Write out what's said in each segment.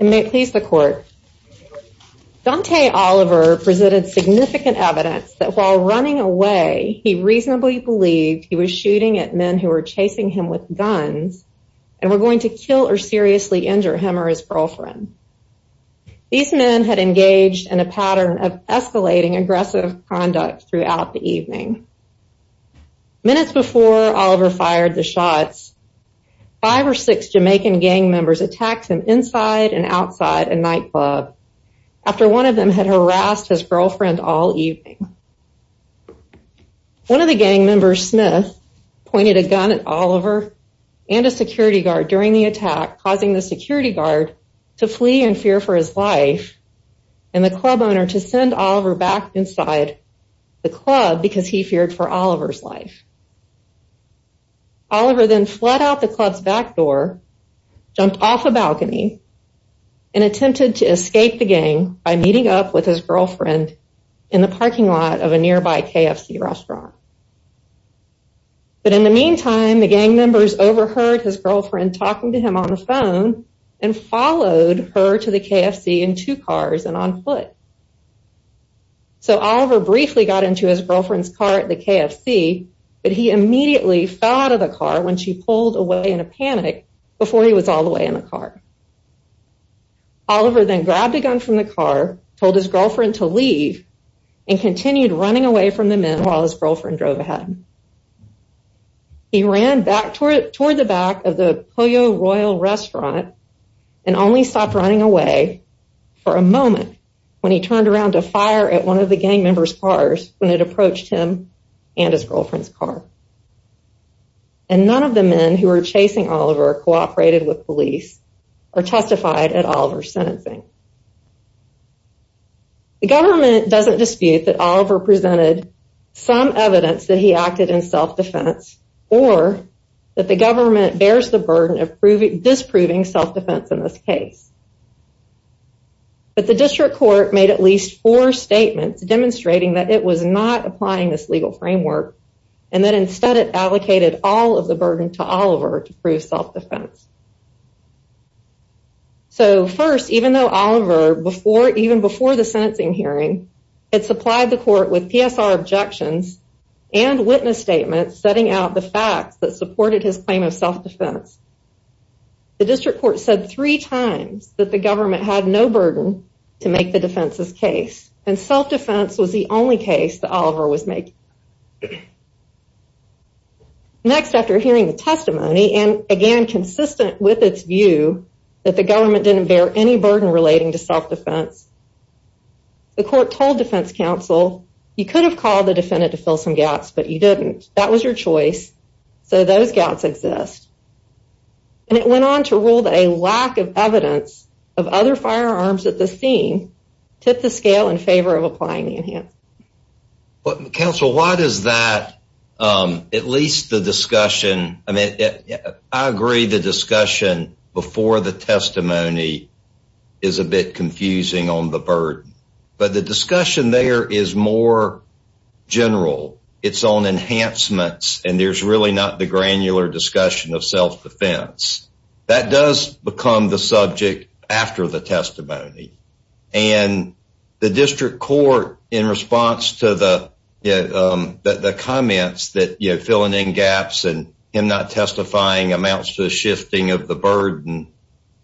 Donta Oliver presented significant evidence that while running away, he reasonably believed he was shooting at men who were chasing him with guns and were going to kill or seriously injure him or his girlfriend. These men had engaged in a pattern of escalating aggressive conduct throughout the evening. Minutes before Oliver fired the shots, five or six Jamaican gang members attacked him inside and outside a nightclub after one of them had harassed his girlfriend all evening. One of the gang members, Smith, pointed a gun at Oliver and a security guard during the attack causing the security guard to flee in fear for his life and the club owner to send Oliver back inside the club because he feared for Oliver's life. He fled out the club's back door, jumped off a balcony, and attempted to escape the gang by meeting up with his girlfriend in the parking lot of a nearby KFC restaurant. But in the meantime, the gang members overheard his girlfriend talking to him on the phone and followed her to the KFC in two cars and on foot. So Oliver briefly got into his girlfriend's car at the KFC, but he immediately fell out of the car when she pulled away in a panic before he was all the way in the car. Oliver then grabbed a gun from the car, told his girlfriend to leave, and continued running away from the men while his girlfriend drove ahead. He ran back toward the back of the Pollo Royal restaurant and only stopped running away for a moment when he turned around to fire at one of the gang members' cars when it approached him and his girlfriend's car. And none of the men who were chasing Oliver cooperated with police or testified at Oliver's sentencing. The government doesn't dispute that Oliver presented some evidence that he acted in self-defense or that the government bears the burden of disproving self-defense in this case. But the district court made at least four statements demonstrating that it was not applying this legal framework and that instead it allocated all of the burden to Oliver to prove self-defense. So first, even though Oliver, even before the sentencing hearing, had supplied the court with PSR objections and witness statements setting out the facts that supported his claim of self-defense, the district court said three times that the government had no burden to make the defense's case, and self-defense was the only case that Oliver was making. Next after hearing the testimony, and again consistent with its view that the government didn't bear any burden relating to self-defense, the court told defense counsel, you could have called the defendant to fill some gaps, but you didn't. That was your choice, so those gaps exist. And it went on to rule that a lack of evidence of other firearms at the scene tipped the scale in favor of applying the enhancements. Counsel, why does that, at least the discussion, I mean, I agree the discussion before the testimony is a bit confusing on the burden, but the discussion there is more general. It's on enhancements, and there's really not the granular discussion of self-defense. That does become the subject after the testimony, and the district court, in response to the comments that, you know, filling in gaps and him not testifying amounts to the shifting of the burden,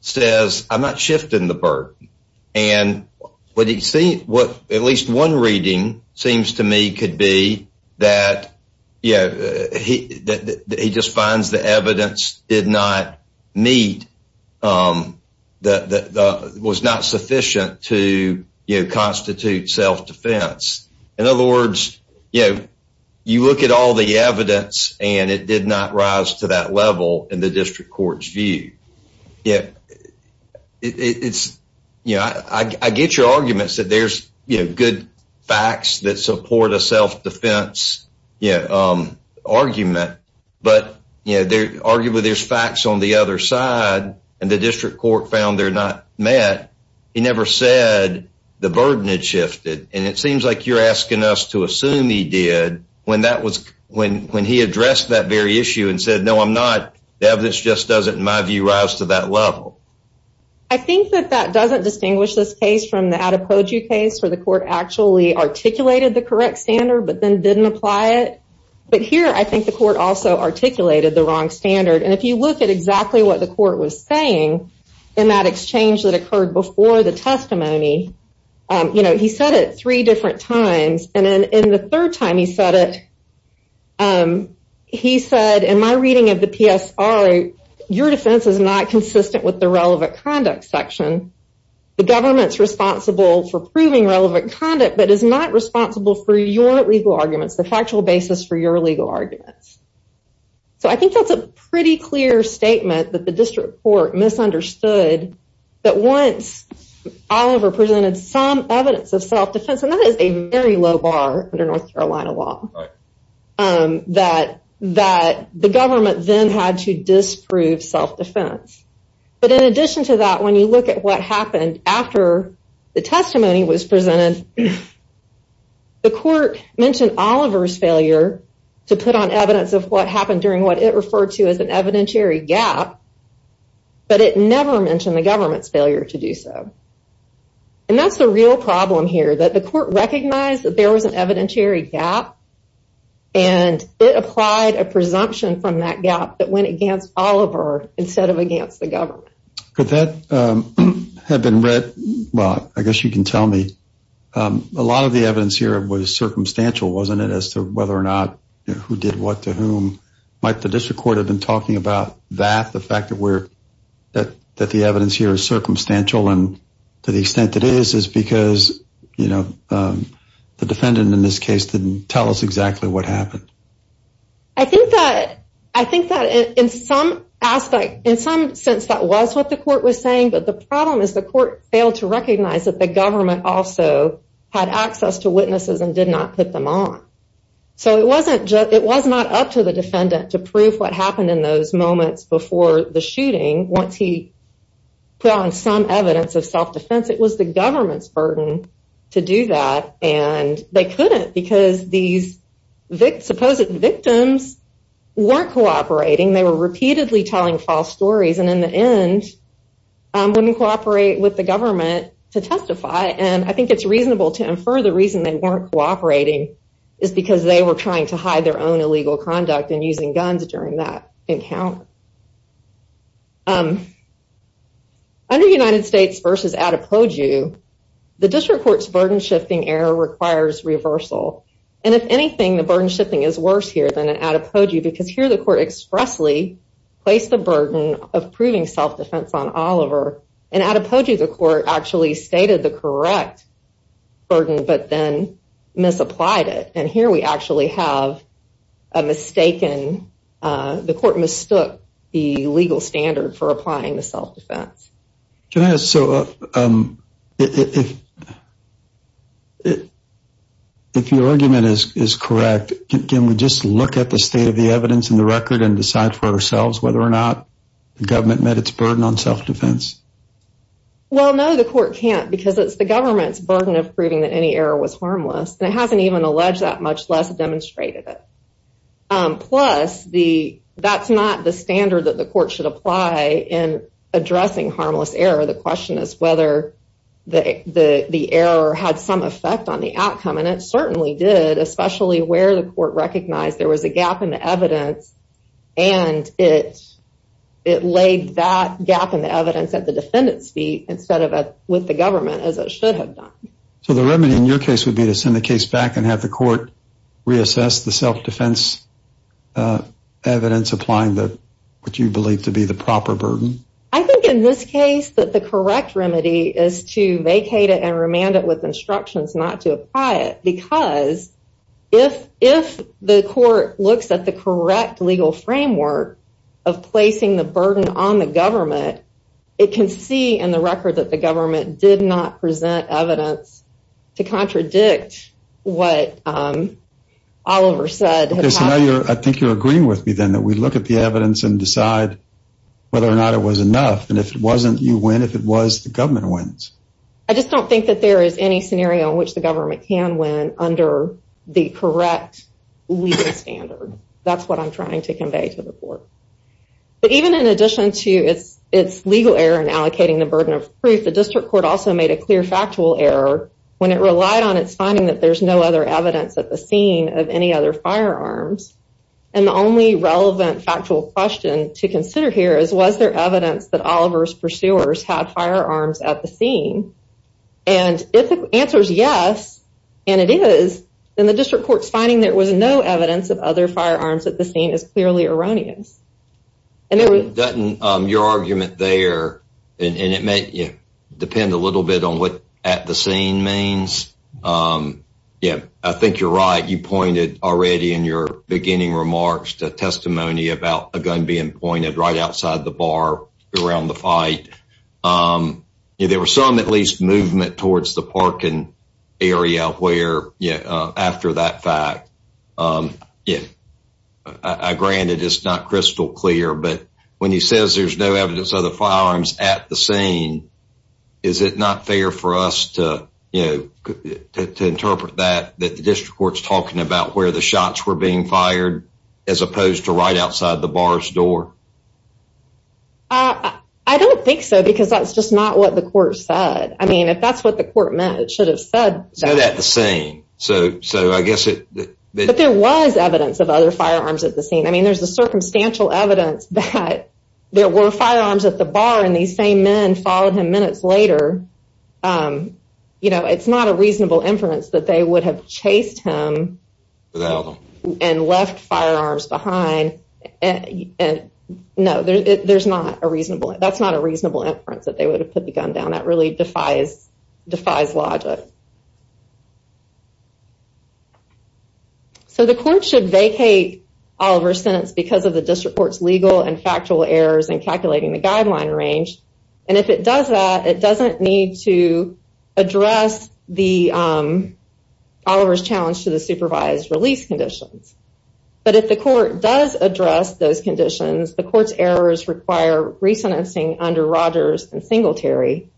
says, I'm not shifting the burden, and what at least one reading seems to me could be that, you know, he just finds the evidence did not meet, was not sufficient to constitute self-defense. In other words, you know, you look at all the evidence, and it did not rise to that level in the district court's view. Yeah. It's, you know, I get your arguments that there's, you know, good facts that support a self-defense argument, but, you know, arguably there's facts on the other side, and the district court found they're not met. He never said the burden had shifted, and it seems like you're asking us to assume he did when that was, when he addressed that very issue and said, no, I'm not. The evidence just doesn't, in my view, rise to that level. I think that that doesn't distinguish this case from the Adepoju case, where the court actually articulated the correct standard, but then didn't apply it. But here, I think the court also articulated the wrong standard, and if you look at exactly what the court was saying in that exchange that occurred before the testimony, you know, he said it your defense is not consistent with the relevant conduct section. The government's responsible for proving relevant conduct, but is not responsible for your legal arguments, the factual basis for your legal arguments. So, I think that's a pretty clear statement that the district court misunderstood that once Oliver presented some evidence of self-defense, and that is a very low bar under North Carolina law, that the government then had to disprove self-defense. But in addition to that, when you look at what happened after the testimony was presented, the court mentioned Oliver's failure to put on evidence of what happened during what it referred to as an evidentiary gap, but it never mentioned the government's failure to recognize that there was an evidentiary gap, and it applied a presumption from that gap that went against Oliver instead of against the government. Could that have been read, well, I guess you can tell me, a lot of the evidence here was circumstantial, wasn't it, as to whether or not, who did what to whom? Might the district court have been talking about that, the fact that the evidence here is circumstantial and to the extent that it is, is because the defendant in this case didn't tell us exactly what happened. I think that in some aspect, in some sense, that was what the court was saying, but the problem is the court failed to recognize that the government also had access to witnesses and did not put them on. So, it was not up to the defendant to prove what happened in those moments before the shooting. Once he put on some evidence of self-defense, it was the government's burden to do that, and they couldn't because these supposed victims weren't cooperating. They were repeatedly telling false stories, and in the end, wouldn't cooperate with the government to testify, and I think it's reasonable to infer the reason they weren't cooperating is because they were trying to hide their own illegal conduct and using guns during that encounter. Under United States v. Adepoju, the district court's burden-shifting error requires reversal, and if anything, the burden-shifting is worse here than in Adepoju because here the court expressly placed the burden of proving self-defense on Oliver, and Adepoju the court actually stated the correct burden but then misapplied it, and here we actually have a mistaken, the court mistook the legal standard for applying the self-defense. Can I ask, so if your argument is correct, can we just look at the state of the evidence in the record and decide for ourselves whether or not the government met its burden on self-defense? Well, no, the court can't because it's the government's fault, and the judge that much less demonstrated it. Plus, that's not the standard that the court should apply in addressing harmless error. The question is whether the error had some effect on the outcome, and it certainly did, especially where the court recognized there was a gap in the evidence, and it laid that gap in the evidence at the defendant's feet instead of with the government, as it should have done. So the remedy in your case would be to send the case back and have the court reassess the self-defense evidence applying what you believe to be the proper burden? I think in this case that the correct remedy is to vacate it and remand it with instructions not to apply it because if the court looks at the correct legal framework of placing the burden on the government, it can see in the record that the government did not present evidence to contradict what Oliver said. Okay, so now I think you're agreeing with me then that we look at the evidence and decide whether or not it was enough, and if it wasn't, you win. If it was, the government wins. I just don't think that there is any scenario in which the government can win under the correct legal standard. That's what I'm trying to convey to the court. But even in addition to its legal error in allocating the burden of proof, the district court also made a clear factual error when it relied on its finding that there's no other evidence at the scene of any other firearms. And the only relevant factual question to consider here is was there evidence that Oliver's pursuers had firearms at the scene? And if the answer is yes, and it is, then the district court's finding there was no evidence of other firearms at the scene is clearly erroneous. Your argument there, and it may depend a little bit on what at the scene means. Yeah, I think you're right. You pointed already in your beginning remarks to testimony about a gun being pointed right outside the bar around the fight. There was some at least movement towards the parking area where after that fact. Yeah, granted, it's not crystal clear. But when he says there's no evidence of the firearms at the scene, is it not fair for us to interpret that the district court's talking about where the shots were being fired, as opposed to right outside the bar's door? I don't think so, because that's just not what the court said. I mean, if that's what the court meant, it should have said that at the scene. But there was evidence of other firearms at the scene. I mean, there's a circumstantial evidence that there were firearms at the bar and these same men followed him minutes later. You know, it's not a reasonable inference that they would have chased him and left firearms behind. And no, there's not a reasonable that's not a reasonable inference that they would have put the gun down. That really defies logic. So the court should vacate Oliver's sentence because of the district court's legal and factual errors in calculating the guideline range. And if it does that, it doesn't need to address Oliver's challenge to the supervised release conditions. But if the court does address those conditions, the court's errors require re-sentencing under Rogers and Singletary.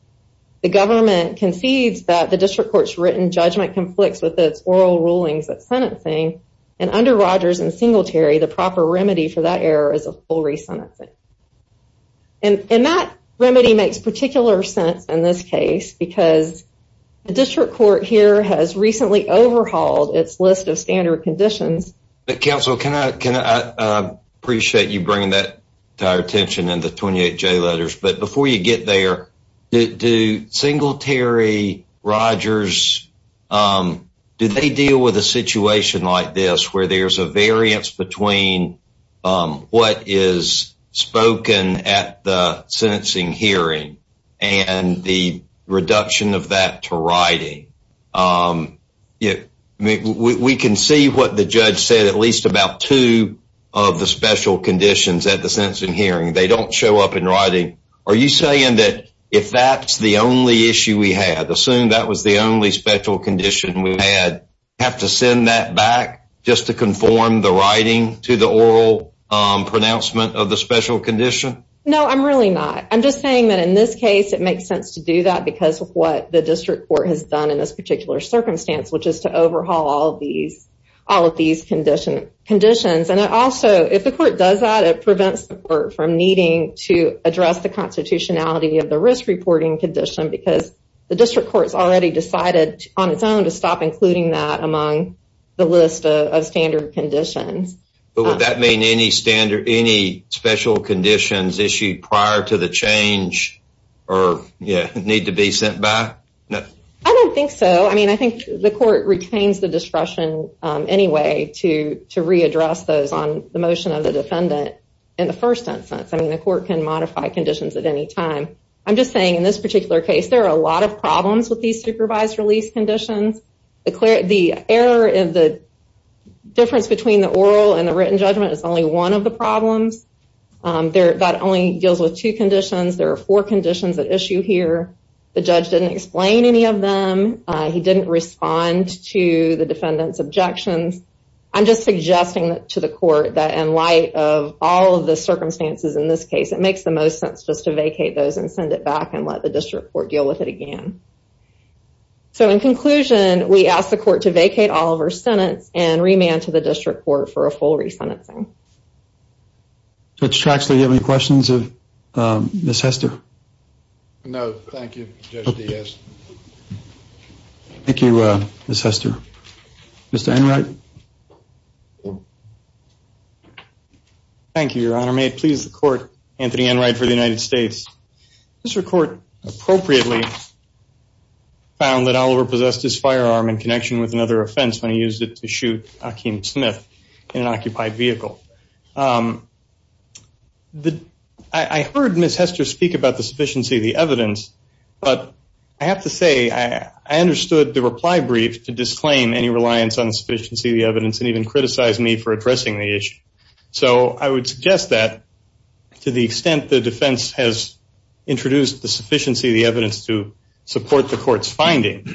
The government concedes that the district court's written judgment conflicts with its oral rulings of sentencing. And under Rogers and Singletary, the proper remedy for that case because the district court here has recently overhauled its list of standard conditions. But counsel, can I appreciate you bringing that to our attention in the 28J letters. But before you get there, do Singletary, Rogers, do they deal with a situation like this where there's a variance between what is spoken at the sentencing hearing and the reduction of that to writing? We can see what the judge said at least about two of the special conditions at the sentencing hearing. They don't show up in writing. Are you saying that if that's the only issue we had, assume that was the only special condition we had, have to send that back just to conform the writing to the oral pronouncement of the special condition? No, I'm really not. I'm just saying that in this case, it makes sense to do that because of what the district court has done in this particular circumstance, which is to overhaul all of these conditions. And also, if the court does that, it prevents the court from needing to address the constitutionality of the risk reporting condition because the district court has already decided on its own to stop including that among the list of standard conditions. But would that mean any special conditions issued prior to the change need to be sent back? I don't think so. I think the court retains the discretion anyway to readdress those on the motion of the defendant in the first instance. The court can modify conditions at any time. I'm just saying in this particular case, there are a lot of problems with these supervised release conditions. The difference between the oral and the written judgment is only one of the problems. That only deals with two conditions. There are four conditions at issue here. The judge didn't explain any of them. He didn't respond to the defendant's objections. I'm just suggesting to the court that in light of all of the circumstances in this case, it makes the most sense just to vacate those and send it back and let the district court deal with it again. So, in conclusion, we ask the court to vacate all of our sentence and remand to the district court for a full resentencing. Judge Traxler, do you have any questions of Ms. Hester? No, thank you, Judge Diaz. Thank you, Ms. Hester. Mr. Enright? Thank you, Your Honor. May it please the court, Anthony Enright for the United States. Mr. Court, appropriately, found that Oliver possessed his firearm in connection with another offense when he used it to shoot Hakeem Smith in an occupied vehicle. I heard Ms. Hester speak about the sufficiency of the evidence, but I have to say, I understood the reply brief to disclaim any reliance on the sufficiency of the evidence and even criticize me for addressing the issue. So, I would suggest that to the extent the defense has introduced the sufficiency of the evidence to support the court's finding,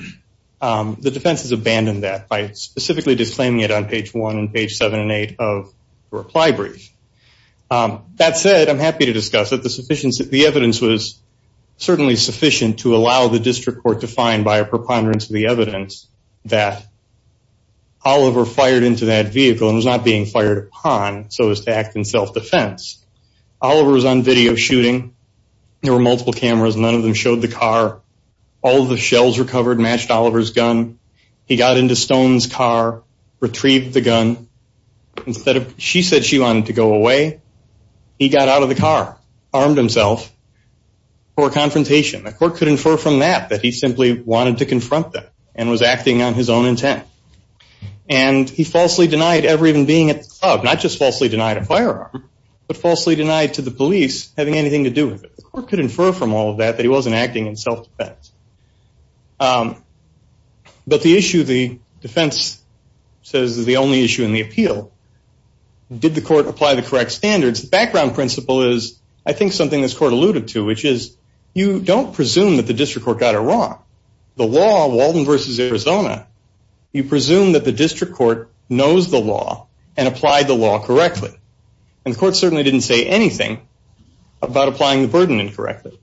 the defense has abandoned that by specifically disclaiming it on page 1 and page 7 and 8 of the reply brief. That said, I'm happy to discuss that the evidence was certainly sufficient to allow the district court to find, by a preponderance of the evidence, that Oliver fired into that vehicle and was not being fired upon so as to act in self-defense. Oliver was on video shooting. There were multiple cameras. None of them showed the car. All of the shells recovered matched Oliver's gun. He got into Stone's car, retrieved the gun. She said she wanted to go away. He got out of the car, armed himself for a confrontation. The court could infer from that that he simply wanted to confront them and was acting on his own intent. And he falsely denied ever even being at the club. Not just falsely denied a firearm, but falsely denied to the police having anything to do with it. The court could infer from all of that that he wasn't acting in self-defense. But the issue the defense says is the only issue in the appeal. Did the court apply the correct standards? The background principle is, I think, something this court alluded to, which is you don't presume that the district court got it wrong. The law, Walden v. Arizona, you presume that the district court knows the law and applied the law correctly. And the court certainly didn't say anything about applying the burden incorrectly.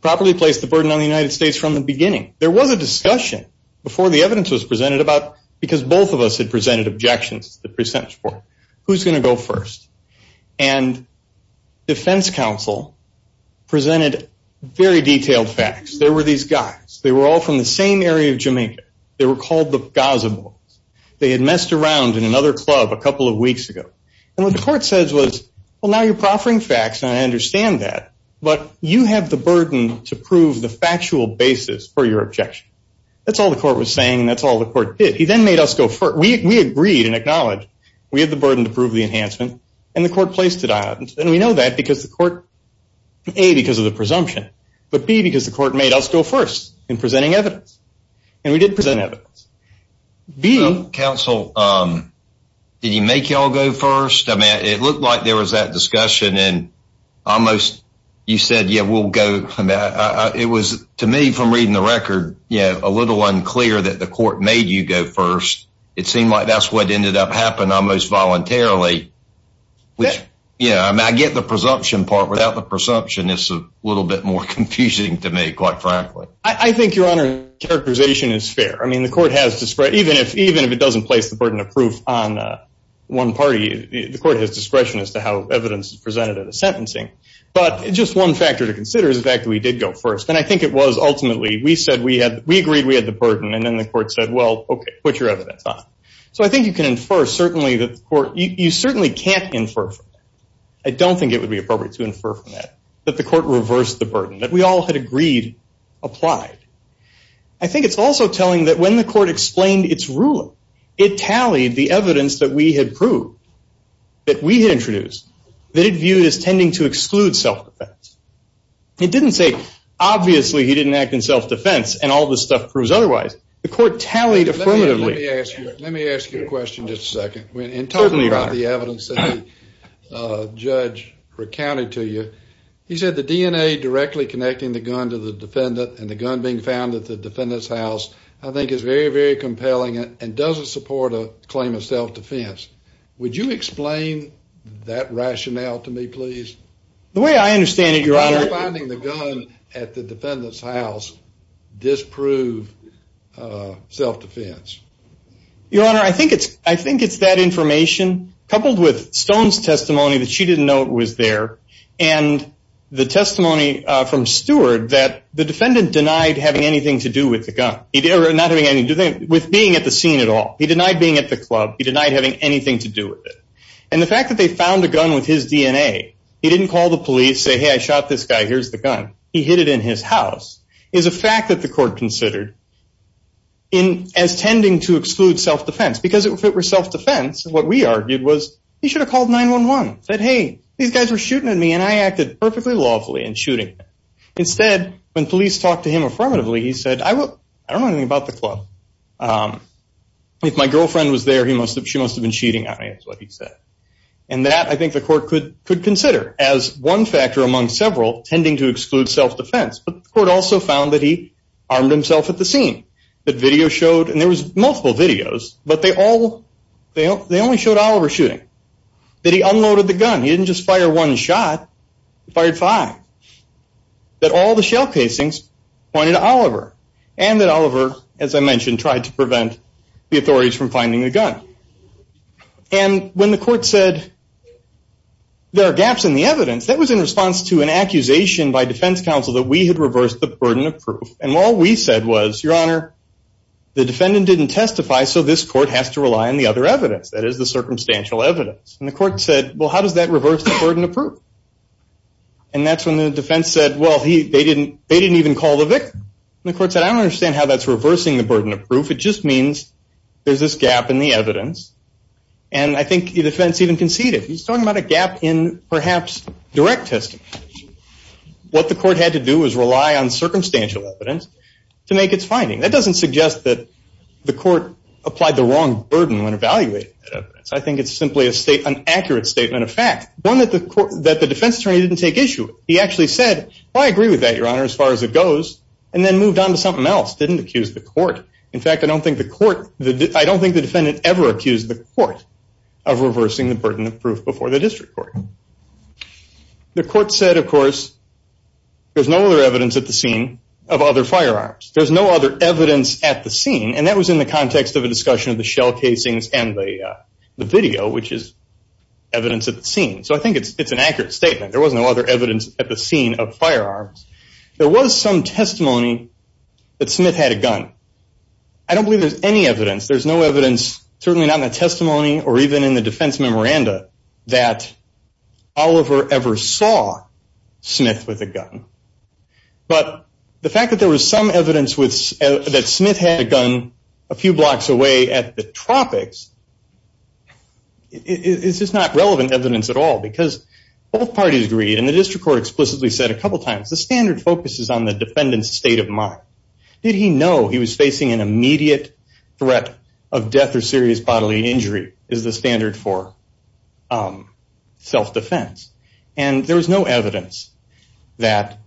Properly placed the burden on the United States from the beginning. There was a discussion before the evidence was presented about, because both of us had presented objections to the defense counsel, presented very detailed facts. There were these guys. They were all from the same area of Jamaica. They were called the Gaza Boys. They had messed around in another club a couple of weeks ago. And what the court says was, well, now you're proffering facts, and I understand that, but you have the burden to prove the factual basis for your objection. That's all the court was saying, and that's all the court did. He then made us go further. We agreed and acknowledged We had the burden to prove the enhancement, and the court placed it on us. And we know that because the court, A, because of the presumption, but B, because the court made us go first in presenting evidence. And we did present evidence. Counsel, did he make you all go first? I mean, it looked like there was that discussion and almost you said, yeah, we'll go. It was, to me, from reading the record, you know, a little unclear that the court made you go first. It seemed like that's what ended up happening almost voluntarily, which, you know, I get the presumption part. Without the presumption, it's a little bit more confusing to me, quite frankly. I think, Your Honor, characterization is fair. I mean, the court has discretion. Even if it doesn't place the burden of proof on one party, the court has discretion as to how evidence is presented at a sentencing. But just one factor to consider is the fact that we did go first. And I think it was ultimately, we agreed we had the burden, and then the court said, well, okay, put your evidence on it. So I think you can infer, certainly, that the court – you certainly can't infer from that. I don't think it would be appropriate to infer from that, that the court reversed the burden, that we all had agreed applied. I think it's also telling that when the court explained its ruling, it tallied the evidence that we had proved, that we had introduced, that it viewed as tending to exclude self-defense. It didn't say, obviously, he didn't act in self-defense, and all this stuff proves otherwise. The court tallied affirmatively. Let me ask you a question just a second. Certainly, Your Honor. In talking about the evidence that the judge recounted to you, he said the DNA directly connecting the gun to the defendant, and the gun being found at the defendant's house, I think is very, very compelling, and doesn't support a claim of self-defense. Would you explain that rationale to me, please? The way I understand it, Your Honor – Finding the gun at the defendant's house disproved self-defense. Your Honor, I think it's that information, coupled with Stone's testimony, that she didn't know it was there, and the testimony from Stewart, that the defendant denied having anything to do with the gun, not having anything to do with being at the scene at all. He denied being at the club. He denied having anything to do with it. And the fact that they found a gun with his DNA, he didn't call the police, say, hey, I shot this guy, here's the gun. He hid it in his house, is a fact that the court considered as tending to exclude self-defense, because if it were self-defense, what we argued was he should have called 911, said, hey, these guys were shooting at me, and I acted perfectly lawfully in shooting them. Instead, when police talked to him affirmatively, he said, I don't know anything about the club. If my girlfriend was there, she must have been cheating on me, is what he said. And that, I think the court could consider as one factor among several, tending to exclude self-defense. But the court also found that he armed himself at the scene, that video showed, and there was multiple videos, but they only showed Oliver shooting. That he unloaded the gun. He didn't just fire one shot, he fired five. That all the shell casings pointed to Oliver. And that Oliver, as I mentioned, tried to prevent the authorities from finding the gun. And when the court said, there are gaps in the evidence, that was in response to an accusation by defense counsel that we had reversed the burden of proof. And all we said was, your honor, the defendant didn't testify, so this court has to rely on the other evidence, that is the circumstantial evidence. And the court said, well, how does that reverse the burden of proof? And that's when the defense said, well, they didn't even call the victim. And the court said, I don't understand how that's reversing the burden of proof. It just means there's this gap in the evidence. And I think the defense even conceded. He's talking about a gap in, perhaps, direct testimony. What the court had to do was rely on circumstantial evidence to make its finding. That doesn't suggest that the court applied the wrong burden when evaluating that evidence. I think it's simply an accurate statement of fact. One that the defense attorney didn't take issue with. He actually said, I agree with that, your honor, as far as it goes, and then moved on to something else, didn't accuse the court. In fact, I don't think the defendant ever accused the court of reversing the burden of proof before the district court. The court said, of course, there's no other evidence at the scene of other firearms. There's no other evidence at the scene, and that was in the context of a discussion of the shell casings and the video, which is evidence at the scene. So I think it's an accurate statement. There was no other evidence at the scene of firearms. There was some testimony that Smith had a gun. I don't believe there's any evidence. There's no evidence, certainly not in the testimony or even in the defense memoranda, that Oliver ever saw Smith with a gun. But the fact that there was some evidence that Smith had a gun a few blocks away at the tropics, is just not relevant evidence at all, because both parties agreed, and the district court explicitly said a couple times, the standard focuses on the defendant's state of mind. Did he know he was facing an immediate threat of death or serious bodily injury, is the standard for self-defense. And there was no evidence that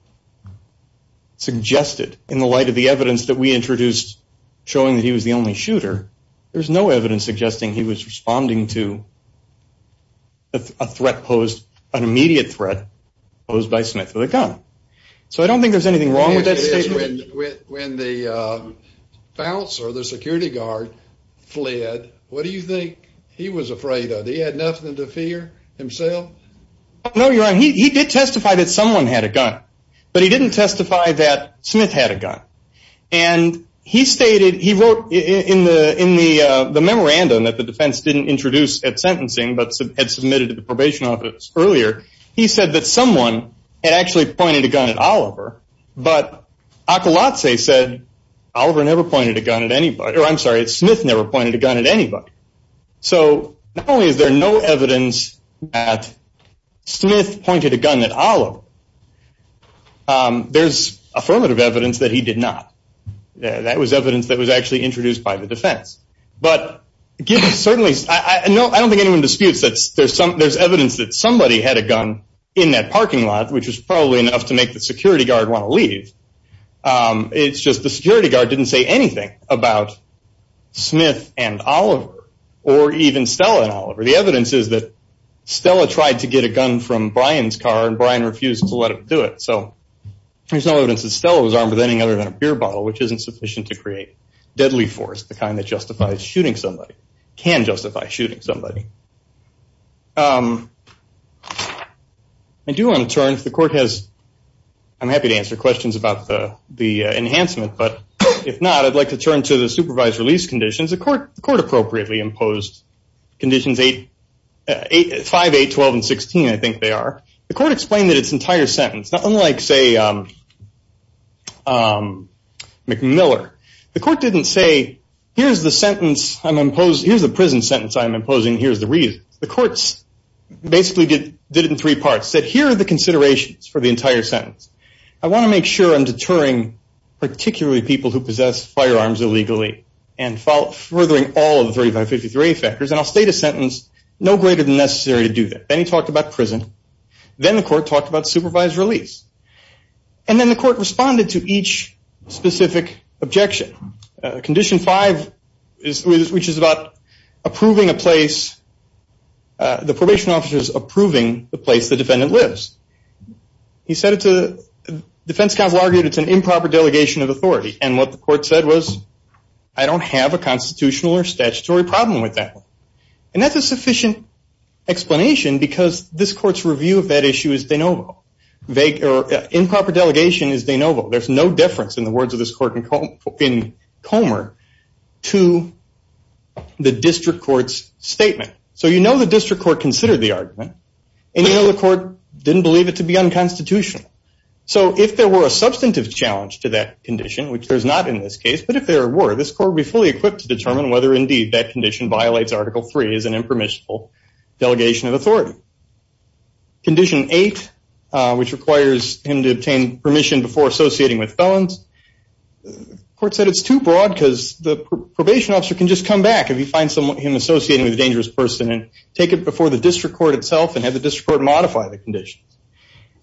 suggested, in the light of the evidence that we introduced showing that he was the only shooter, there was no evidence suggesting he was responding to a threat posed, an immediate threat posed by Smith with a gun. So I don't think there's anything wrong with that statement. When the bouncer, the security guard, fled, what do you think he was afraid of? That he had nothing to fear himself? No, you're right. He did testify that someone had a gun. But he didn't testify that Smith had a gun. And he stated, he wrote in the memorandum that the defense didn't introduce at sentencing, but had submitted to the probation office earlier, he said that someone had actually pointed a gun at Oliver, but Akolatse said, Oliver never pointed a gun at anybody, or I'm sorry, Smith never pointed a gun at anybody. So not only is there no evidence that Smith pointed a gun at Oliver, there's affirmative evidence that he did not. That was evidence that was actually introduced by the defense. But I don't think anyone disputes that there's evidence that somebody had a gun in that parking lot, which was probably enough to make the security guard want to leave. It's just the security guard didn't say anything about Smith and Oliver, or even Stella and Oliver. The evidence is that Stella tried to get a gun from Brian's car, and Brian refused to let him do it. So there's no evidence that Stella was armed with anything other than a beer bottle, which isn't sufficient to create deadly force, the kind that justifies shooting somebody, can justify shooting somebody. I do want to turn, if the court has, I'm happy to answer questions about the enhancement, but if not, I'd like to turn to the supervised release conditions. The court appropriately imposed conditions 5, 8, 12, and 16, I think they are. The court explained that its entire sentence, unlike, say, McMiller, the court didn't say, here's the sentence I'm imposing, here's the reason. The court basically did it in three parts. It said, here are the considerations for the entire sentence. I want to make sure I'm deterring particularly people who possess firearms illegally and furthering all of the 3553A factors, and I'll state a sentence, no greater than necessary to do that. Then he talked about prison. Then the court talked about supervised release. And then the court responded to each specific objection. Condition 5, which is about approving a place, the probation officer's approving the place the defendant lives. He said it's a, the defense counsel argued it's an improper delegation of authority, and what the court said was, I don't have a constitutional or statutory problem with that. And that's a sufficient explanation because this court's review of that issue is de novo. Improper delegation is de novo. There's no difference in the words of this court in Comer to the district court's statement. So you know the district court considered the argument, and you know the court didn't believe it to be unconstitutional. So if there were a substantive challenge to that condition, which there's not in this case, but if there were, this court would be fully equipped to determine whether, indeed, that condition violates Article III as an impermissible delegation of authority. Condition 8, which requires him to obtain permission before associating with felons, the court said it's too broad because the probation officer can just come back if he finds him associating with a dangerous person and take it before the district court itself and have the district court modify the conditions.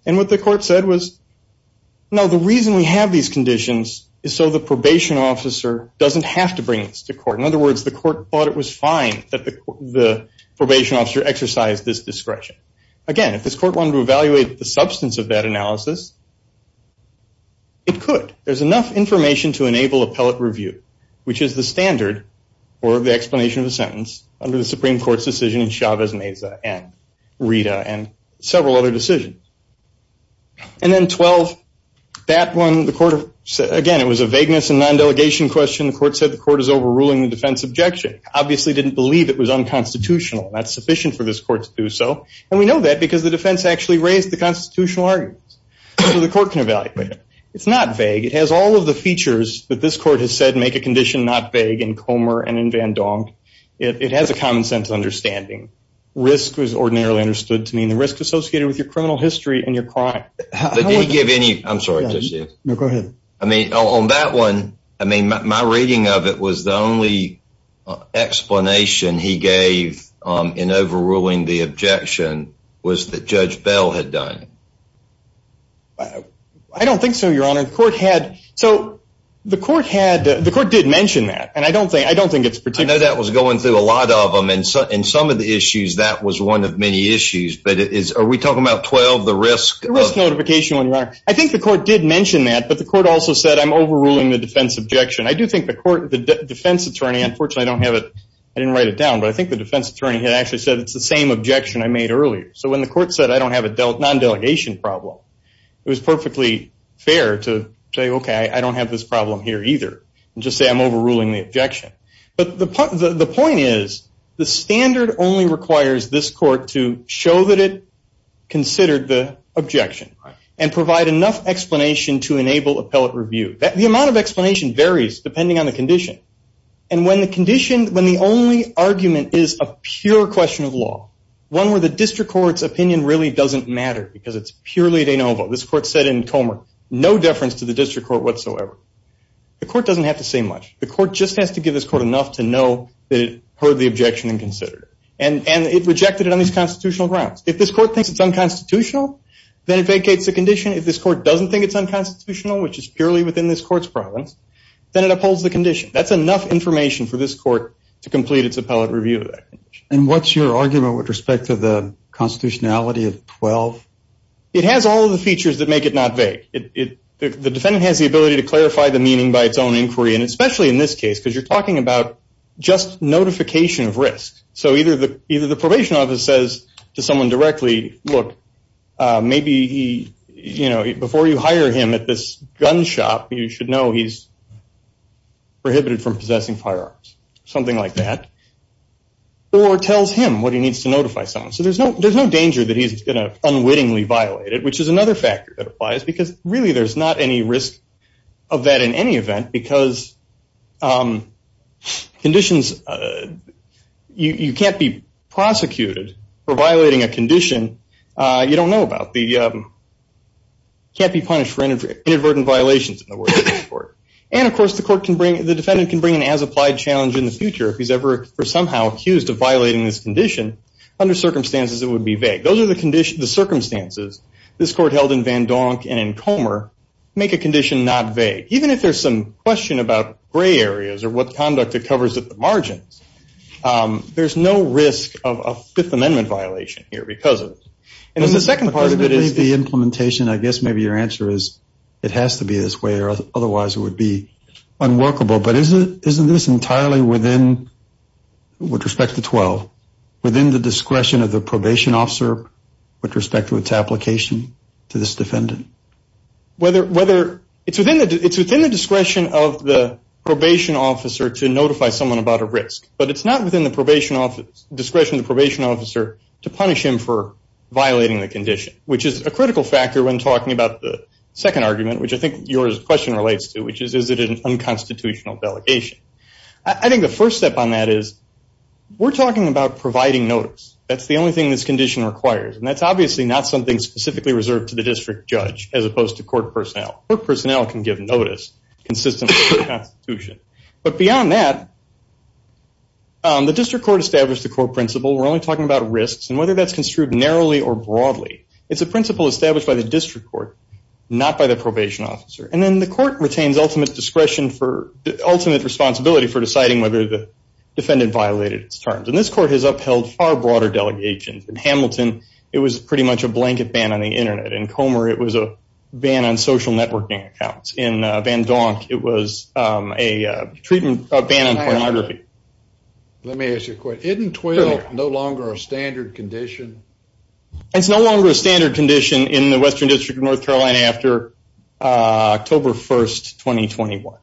And what the court said was, no, the reason we have these conditions is so the probation officer doesn't have to bring this to court. In other words, the court thought it was fine that the probation officer exercised this discretion. Again, if this court wanted to evaluate the substance of that analysis, it could. There's enough information to enable appellate review, which is the standard for the explanation of a sentence under the Supreme Court's decision in Chavez-Mesa and Rita and several other decisions. And then 12, that one, the court, again, it was a vagueness and non-delegation question. The court said the court is overruling the defense objection. Obviously didn't believe it was unconstitutional. That's sufficient for this court to do so. And we know that because the defense actually raised the constitutional arguments. So the court can evaluate it. It's not vague. It has all of the features that this court has said make a condition not vague in Comer and in Van Donk. It has a common sense understanding. Risk was ordinarily understood to mean the risk associated with your criminal history and your crime. I'm sorry. No, go ahead. I mean, on that one, I mean, my reading of it was the only explanation he gave in overruling the objection was that Judge Bell had done it. I don't think so, Your Honor. The court did mention that, and I don't think it's particular. I know that was going through a lot of them, and in some of the issues, that was one of many issues. But are we talking about 12, the risk? Risk notification, Your Honor. I think the court did mention that, but the court also said I'm overruling the defense objection. I do think the defense attorney, unfortunately, I don't have it. I didn't write it down, but I think the defense attorney had actually said it's the same objection I made earlier. So when the court said I don't have a non-delegation problem, it was perfectly fair to say, okay, I don't have this problem here either, and just say I'm overruling the objection. But the point is the standard only requires this court to show that it considered the objection and provide enough explanation to enable appellate review. The amount of explanation varies depending on the condition. And when the condition, when the only argument is a pure question of law, one where the district court's opinion really doesn't matter because it's purely de novo. This court said in Comer, no deference to the district court whatsoever. The court doesn't have to say much. The court just has to give this court enough to know that it heard the objection and considered it. And it rejected it on these constitutional grounds. If this court thinks it's unconstitutional, then it vacates the condition. If this court doesn't think it's unconstitutional, which is purely within this court's province, then it upholds the condition. That's enough information for this court to complete its appellate review of that condition. And what's your argument with respect to the constitutionality of 12? It has all of the features that make it not vague. The defendant has the ability to clarify the meaning by its own inquiry, and especially in this case because you're talking about just notification of risk. So either the probation office says to someone directly, look, maybe before you hire him at this gun shop, you should know he's prohibited from possessing firearms, something like that, or tells him what he needs to notify someone. So there's no danger that he's going to unwittingly violate it, which is another factor that applies because really there's not any risk of that in any event because you can't be prosecuted for violating a condition you don't know about. You can't be punished for inadvertent violations in the words of the court. And, of course, the defendant can bring an as-applied challenge in the future if he's ever somehow accused of violating this condition. Under circumstances, it would be vague. Those are the circumstances. This court held in Van Donk and in Comer make a condition not vague. Even if there's some question about gray areas or what conduct it covers at the margins, there's no risk of a Fifth Amendment violation here because of it. The second part of it is the implementation. I guess maybe your answer is it has to be this way or otherwise it would be unworkable. But isn't this entirely within, with respect to 12, within the discretion of the probation officer with respect to its application to this defendant? It's within the discretion of the probation officer to notify someone about a risk, but it's not within the discretion of the probation officer to punish him for violating the condition, which is a critical factor when talking about the second argument, which I think your question relates to, which is is it an unconstitutional delegation. I think the first step on that is we're talking about providing notice. That's the only thing this condition requires, and that's obviously not something specifically reserved to the district judge as opposed to court personnel. Court personnel can give notice consistent with the Constitution. But beyond that, the district court established the core principle. We're only talking about risks and whether that's construed narrowly or broadly. It's a principle established by the district court, not by the probation officer. And then the court retains ultimate discretion for, ultimate responsibility for deciding whether the defendant violated its terms. And this court has upheld far broader delegations. In Hamilton, it was pretty much a blanket ban on the Internet. In Comer, it was a ban on social networking accounts. In Van Donk, it was a treatment ban on pornography. Let me ask you a question. Isn't 12 no longer a standard condition? It's no longer a standard condition in the Western District of North Carolina after October 1st, 2021.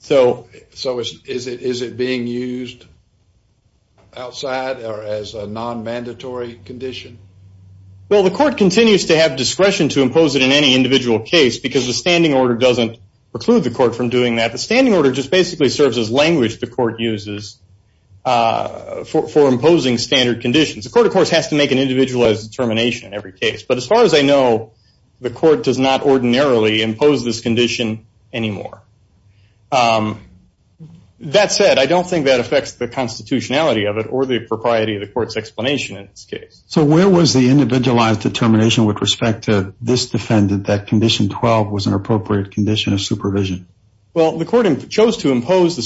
So is it being used outside or as a non-mandatory condition? Well, the court continues to have discretion to impose it in any individual case because the standing order doesn't preclude the court from doing that. The standing order just basically serves as language the court uses for imposing standard conditions. The court, of course, has to make an individualized determination in every case. But as far as I know, the court does not ordinarily impose this condition anymore. That said, I don't think that affects the constitutionality of it or the propriety of the court's explanation in this case. So where was the individualized determination with respect to this defendant that condition 12 was an appropriate condition of supervision? Well, the court chose to impose the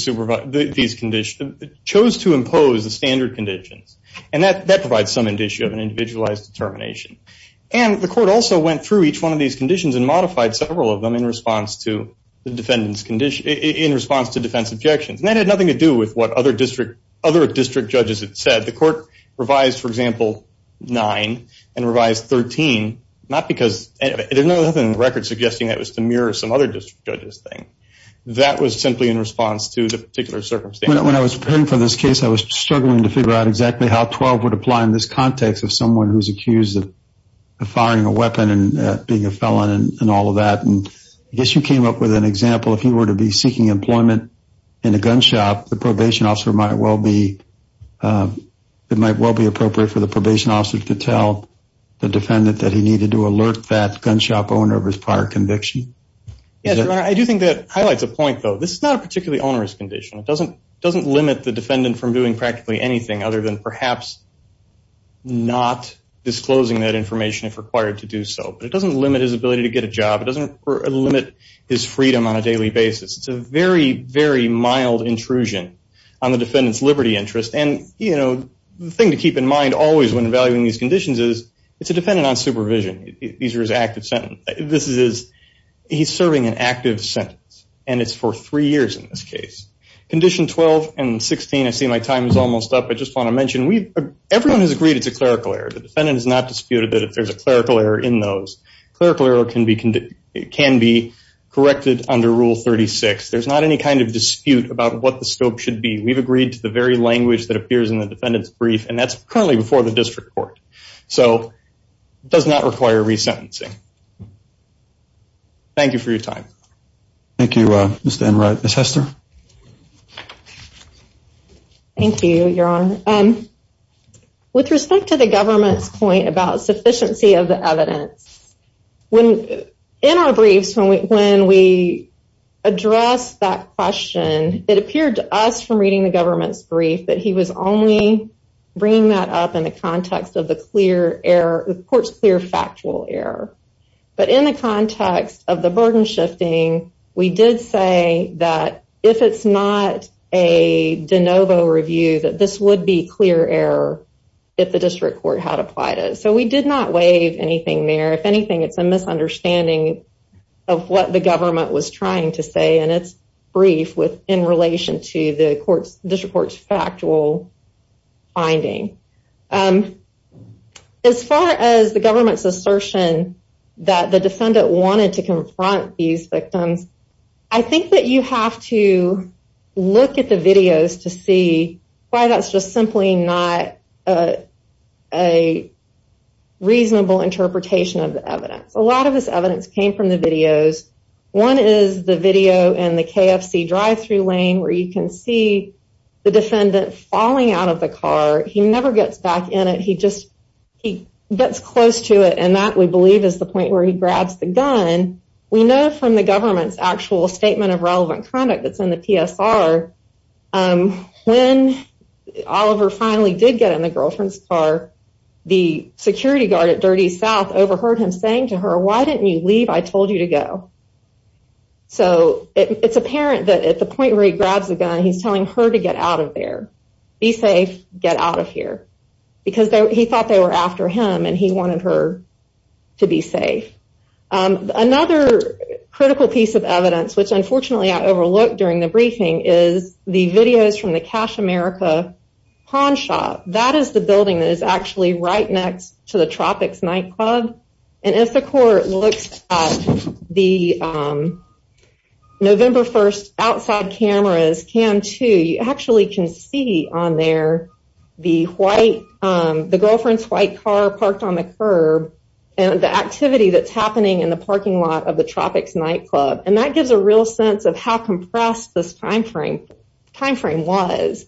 standard conditions. And that provides some indicia of an individualized determination. And the court also went through each one of these conditions and modified several of them in response to defense objections. And that had nothing to do with what other district judges had said. The court revised, for example, 9 and revised 13, not because there's nothing in the record suggesting that was to mirror some other district judge's thing. That was simply in response to the particular circumstance. When I was preparing for this case, I was struggling to figure out exactly how 12 would apply in this context of someone who's accused of firing a weapon and being a felon and all of that. And I guess you came up with an example. If he were to be seeking employment in a gun shop, the probation officer might well be appropriate for the probation officer to tell the defendant that he needed to alert that gun shop owner of his prior conviction. Yes, Your Honor, I do think that highlights a point, though. This is not a particularly onerous condition. It doesn't limit the defendant from doing practically anything other than perhaps not disclosing that information if required to do so. But it doesn't limit his ability to get a job. It doesn't limit his freedom on a daily basis. It's a very, very mild intrusion on the defendant's liberty interest. And the thing to keep in mind always when evaluating these conditions is it's a defendant on supervision. These are his active sentences. He's serving an active sentence, and it's for three years in this case. Condition 12 and 16, I see my time is almost up. I just want to mention everyone has agreed it's a clerical error. The defendant has not disputed that there's a clerical error in those. A clerical error can be corrected under Rule 36. There's not any kind of dispute about what the scope should be. We've agreed to the very language that appears in the defendant's brief, and that's currently before the district court. So it does not require resentencing. Thank you for your time. Thank you, Mr. Enright. Ms. Hester? Thank you, Your Honor. With respect to the government's point about sufficiency of the evidence, in our briefs when we address that question, it appeared to us from reading the government's brief that he was only bringing that up in the context of the court's clear factual error. But in the context of the burden shifting, we did say that if it's not a de novo review, that this would be clear error if the district court had applied it. So we did not waive anything there. If anything, it's a misunderstanding of what the government was trying to say in its brief in relation to the district court's factual finding. As far as the government's assertion that the defendant wanted to confront these victims, I think that you have to look at the videos to see why that's just simply not a reasonable interpretation of the evidence. A lot of this evidence came from the videos. One is the video in the KFC drive-thru lane where you can see the defendant falling out of the car. He never gets back in it. He just gets close to it, and that, we believe, is the point where he grabs the gun. We know from the government's actual statement of relevant conduct that's in the PSR, when Oliver finally did get in the girlfriend's car, the security guard at Dirty South overheard him saying to her, why didn't you leave? I told you to go. So it's apparent that at the point where he grabs the gun, he's telling her to get out of there. Be safe. Get out of here. Because he thought they were after him, and he wanted her to be safe. Another critical piece of evidence, which unfortunately I overlooked during the briefing, is the videos from the Cash America pawn shop. That is the building that is actually right next to the Tropics nightclub. And if the court looks at the November 1st outside cameras, Cam 2, you actually can see on there the girlfriend's white car parked on the curb and the activity that's happening in the parking lot of the Tropics nightclub. And that gives a real sense of how compressed this time frame was.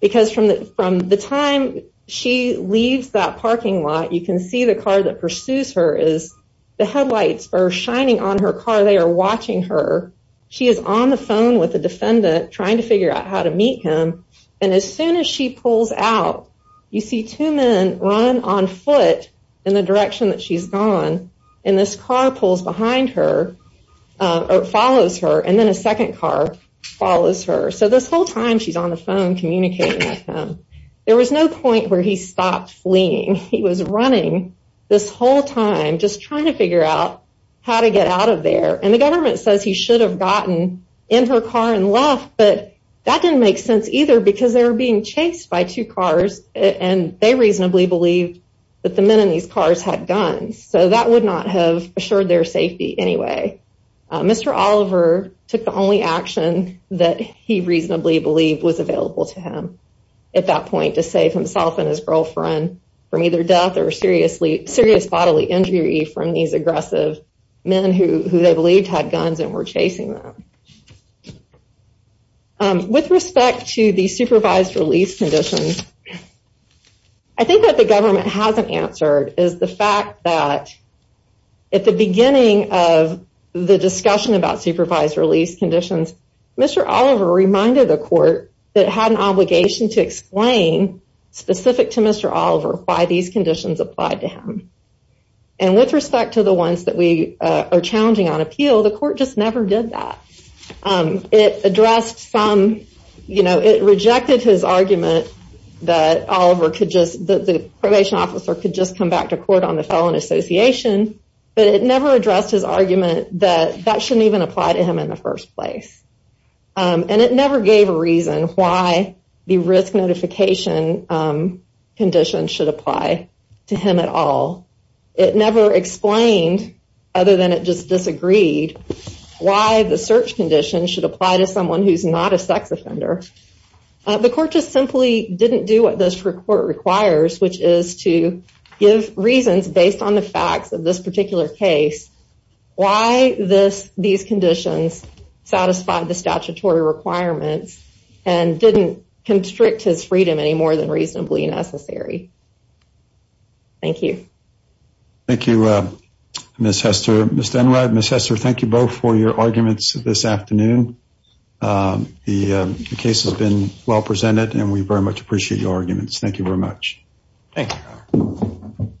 Because from the time she leaves that parking lot, you can see the car that pursues her is, the headlights are shining on her car. They are watching her. She is on the phone with the defendant, trying to figure out how to meet him. And as soon as she pulls out, you see two men run on foot in the direction that she's gone. And this car pulls behind her, or follows her, and then a second car follows her. So this whole time she's on the phone, communicating with him. There was no point where he stopped fleeing. He was running this whole time, just trying to figure out how to get out of there. And the government says he should have gotten in her car and left, but that didn't make sense either because they were being chased by two cars, and they reasonably believed that the men in these cars had guns. So that would not have assured their safety anyway. Mr. Oliver took the only action that he reasonably believed was available to him at that point to save himself and his girlfriend from either death or serious bodily injury from these aggressive men who they believed had guns and were chasing them. With respect to the supervised release conditions, I think what the government hasn't answered is the fact that at the beginning of the discussion about supervised release conditions, Mr. Oliver reminded the court that it had an obligation to explain, specific to Mr. Oliver, why these conditions applied to him. And with respect to the ones that we are challenging on appeal, the court just never did that. It rejected his argument that the probation officer could just come back to court on the felon association, but it never addressed his argument that that shouldn't even apply to him in the first place. And it never gave a reason why the risk notification condition should apply to him at all. It never explained, other than it just disagreed, why the search condition should apply to someone who's not a sex offender. The court just simply didn't do what this court requires, which is to give reasons based on the facts of this particular case, why these conditions satisfied the statutory requirements and didn't constrict his freedom any more than reasonably necessary. Thank you. Thank you, Ms. Hester. Mr. Enright, Ms. Hester, thank you both for your arguments this afternoon. The case has been well presented and we very much appreciate your arguments. Thank you very much. Thank you.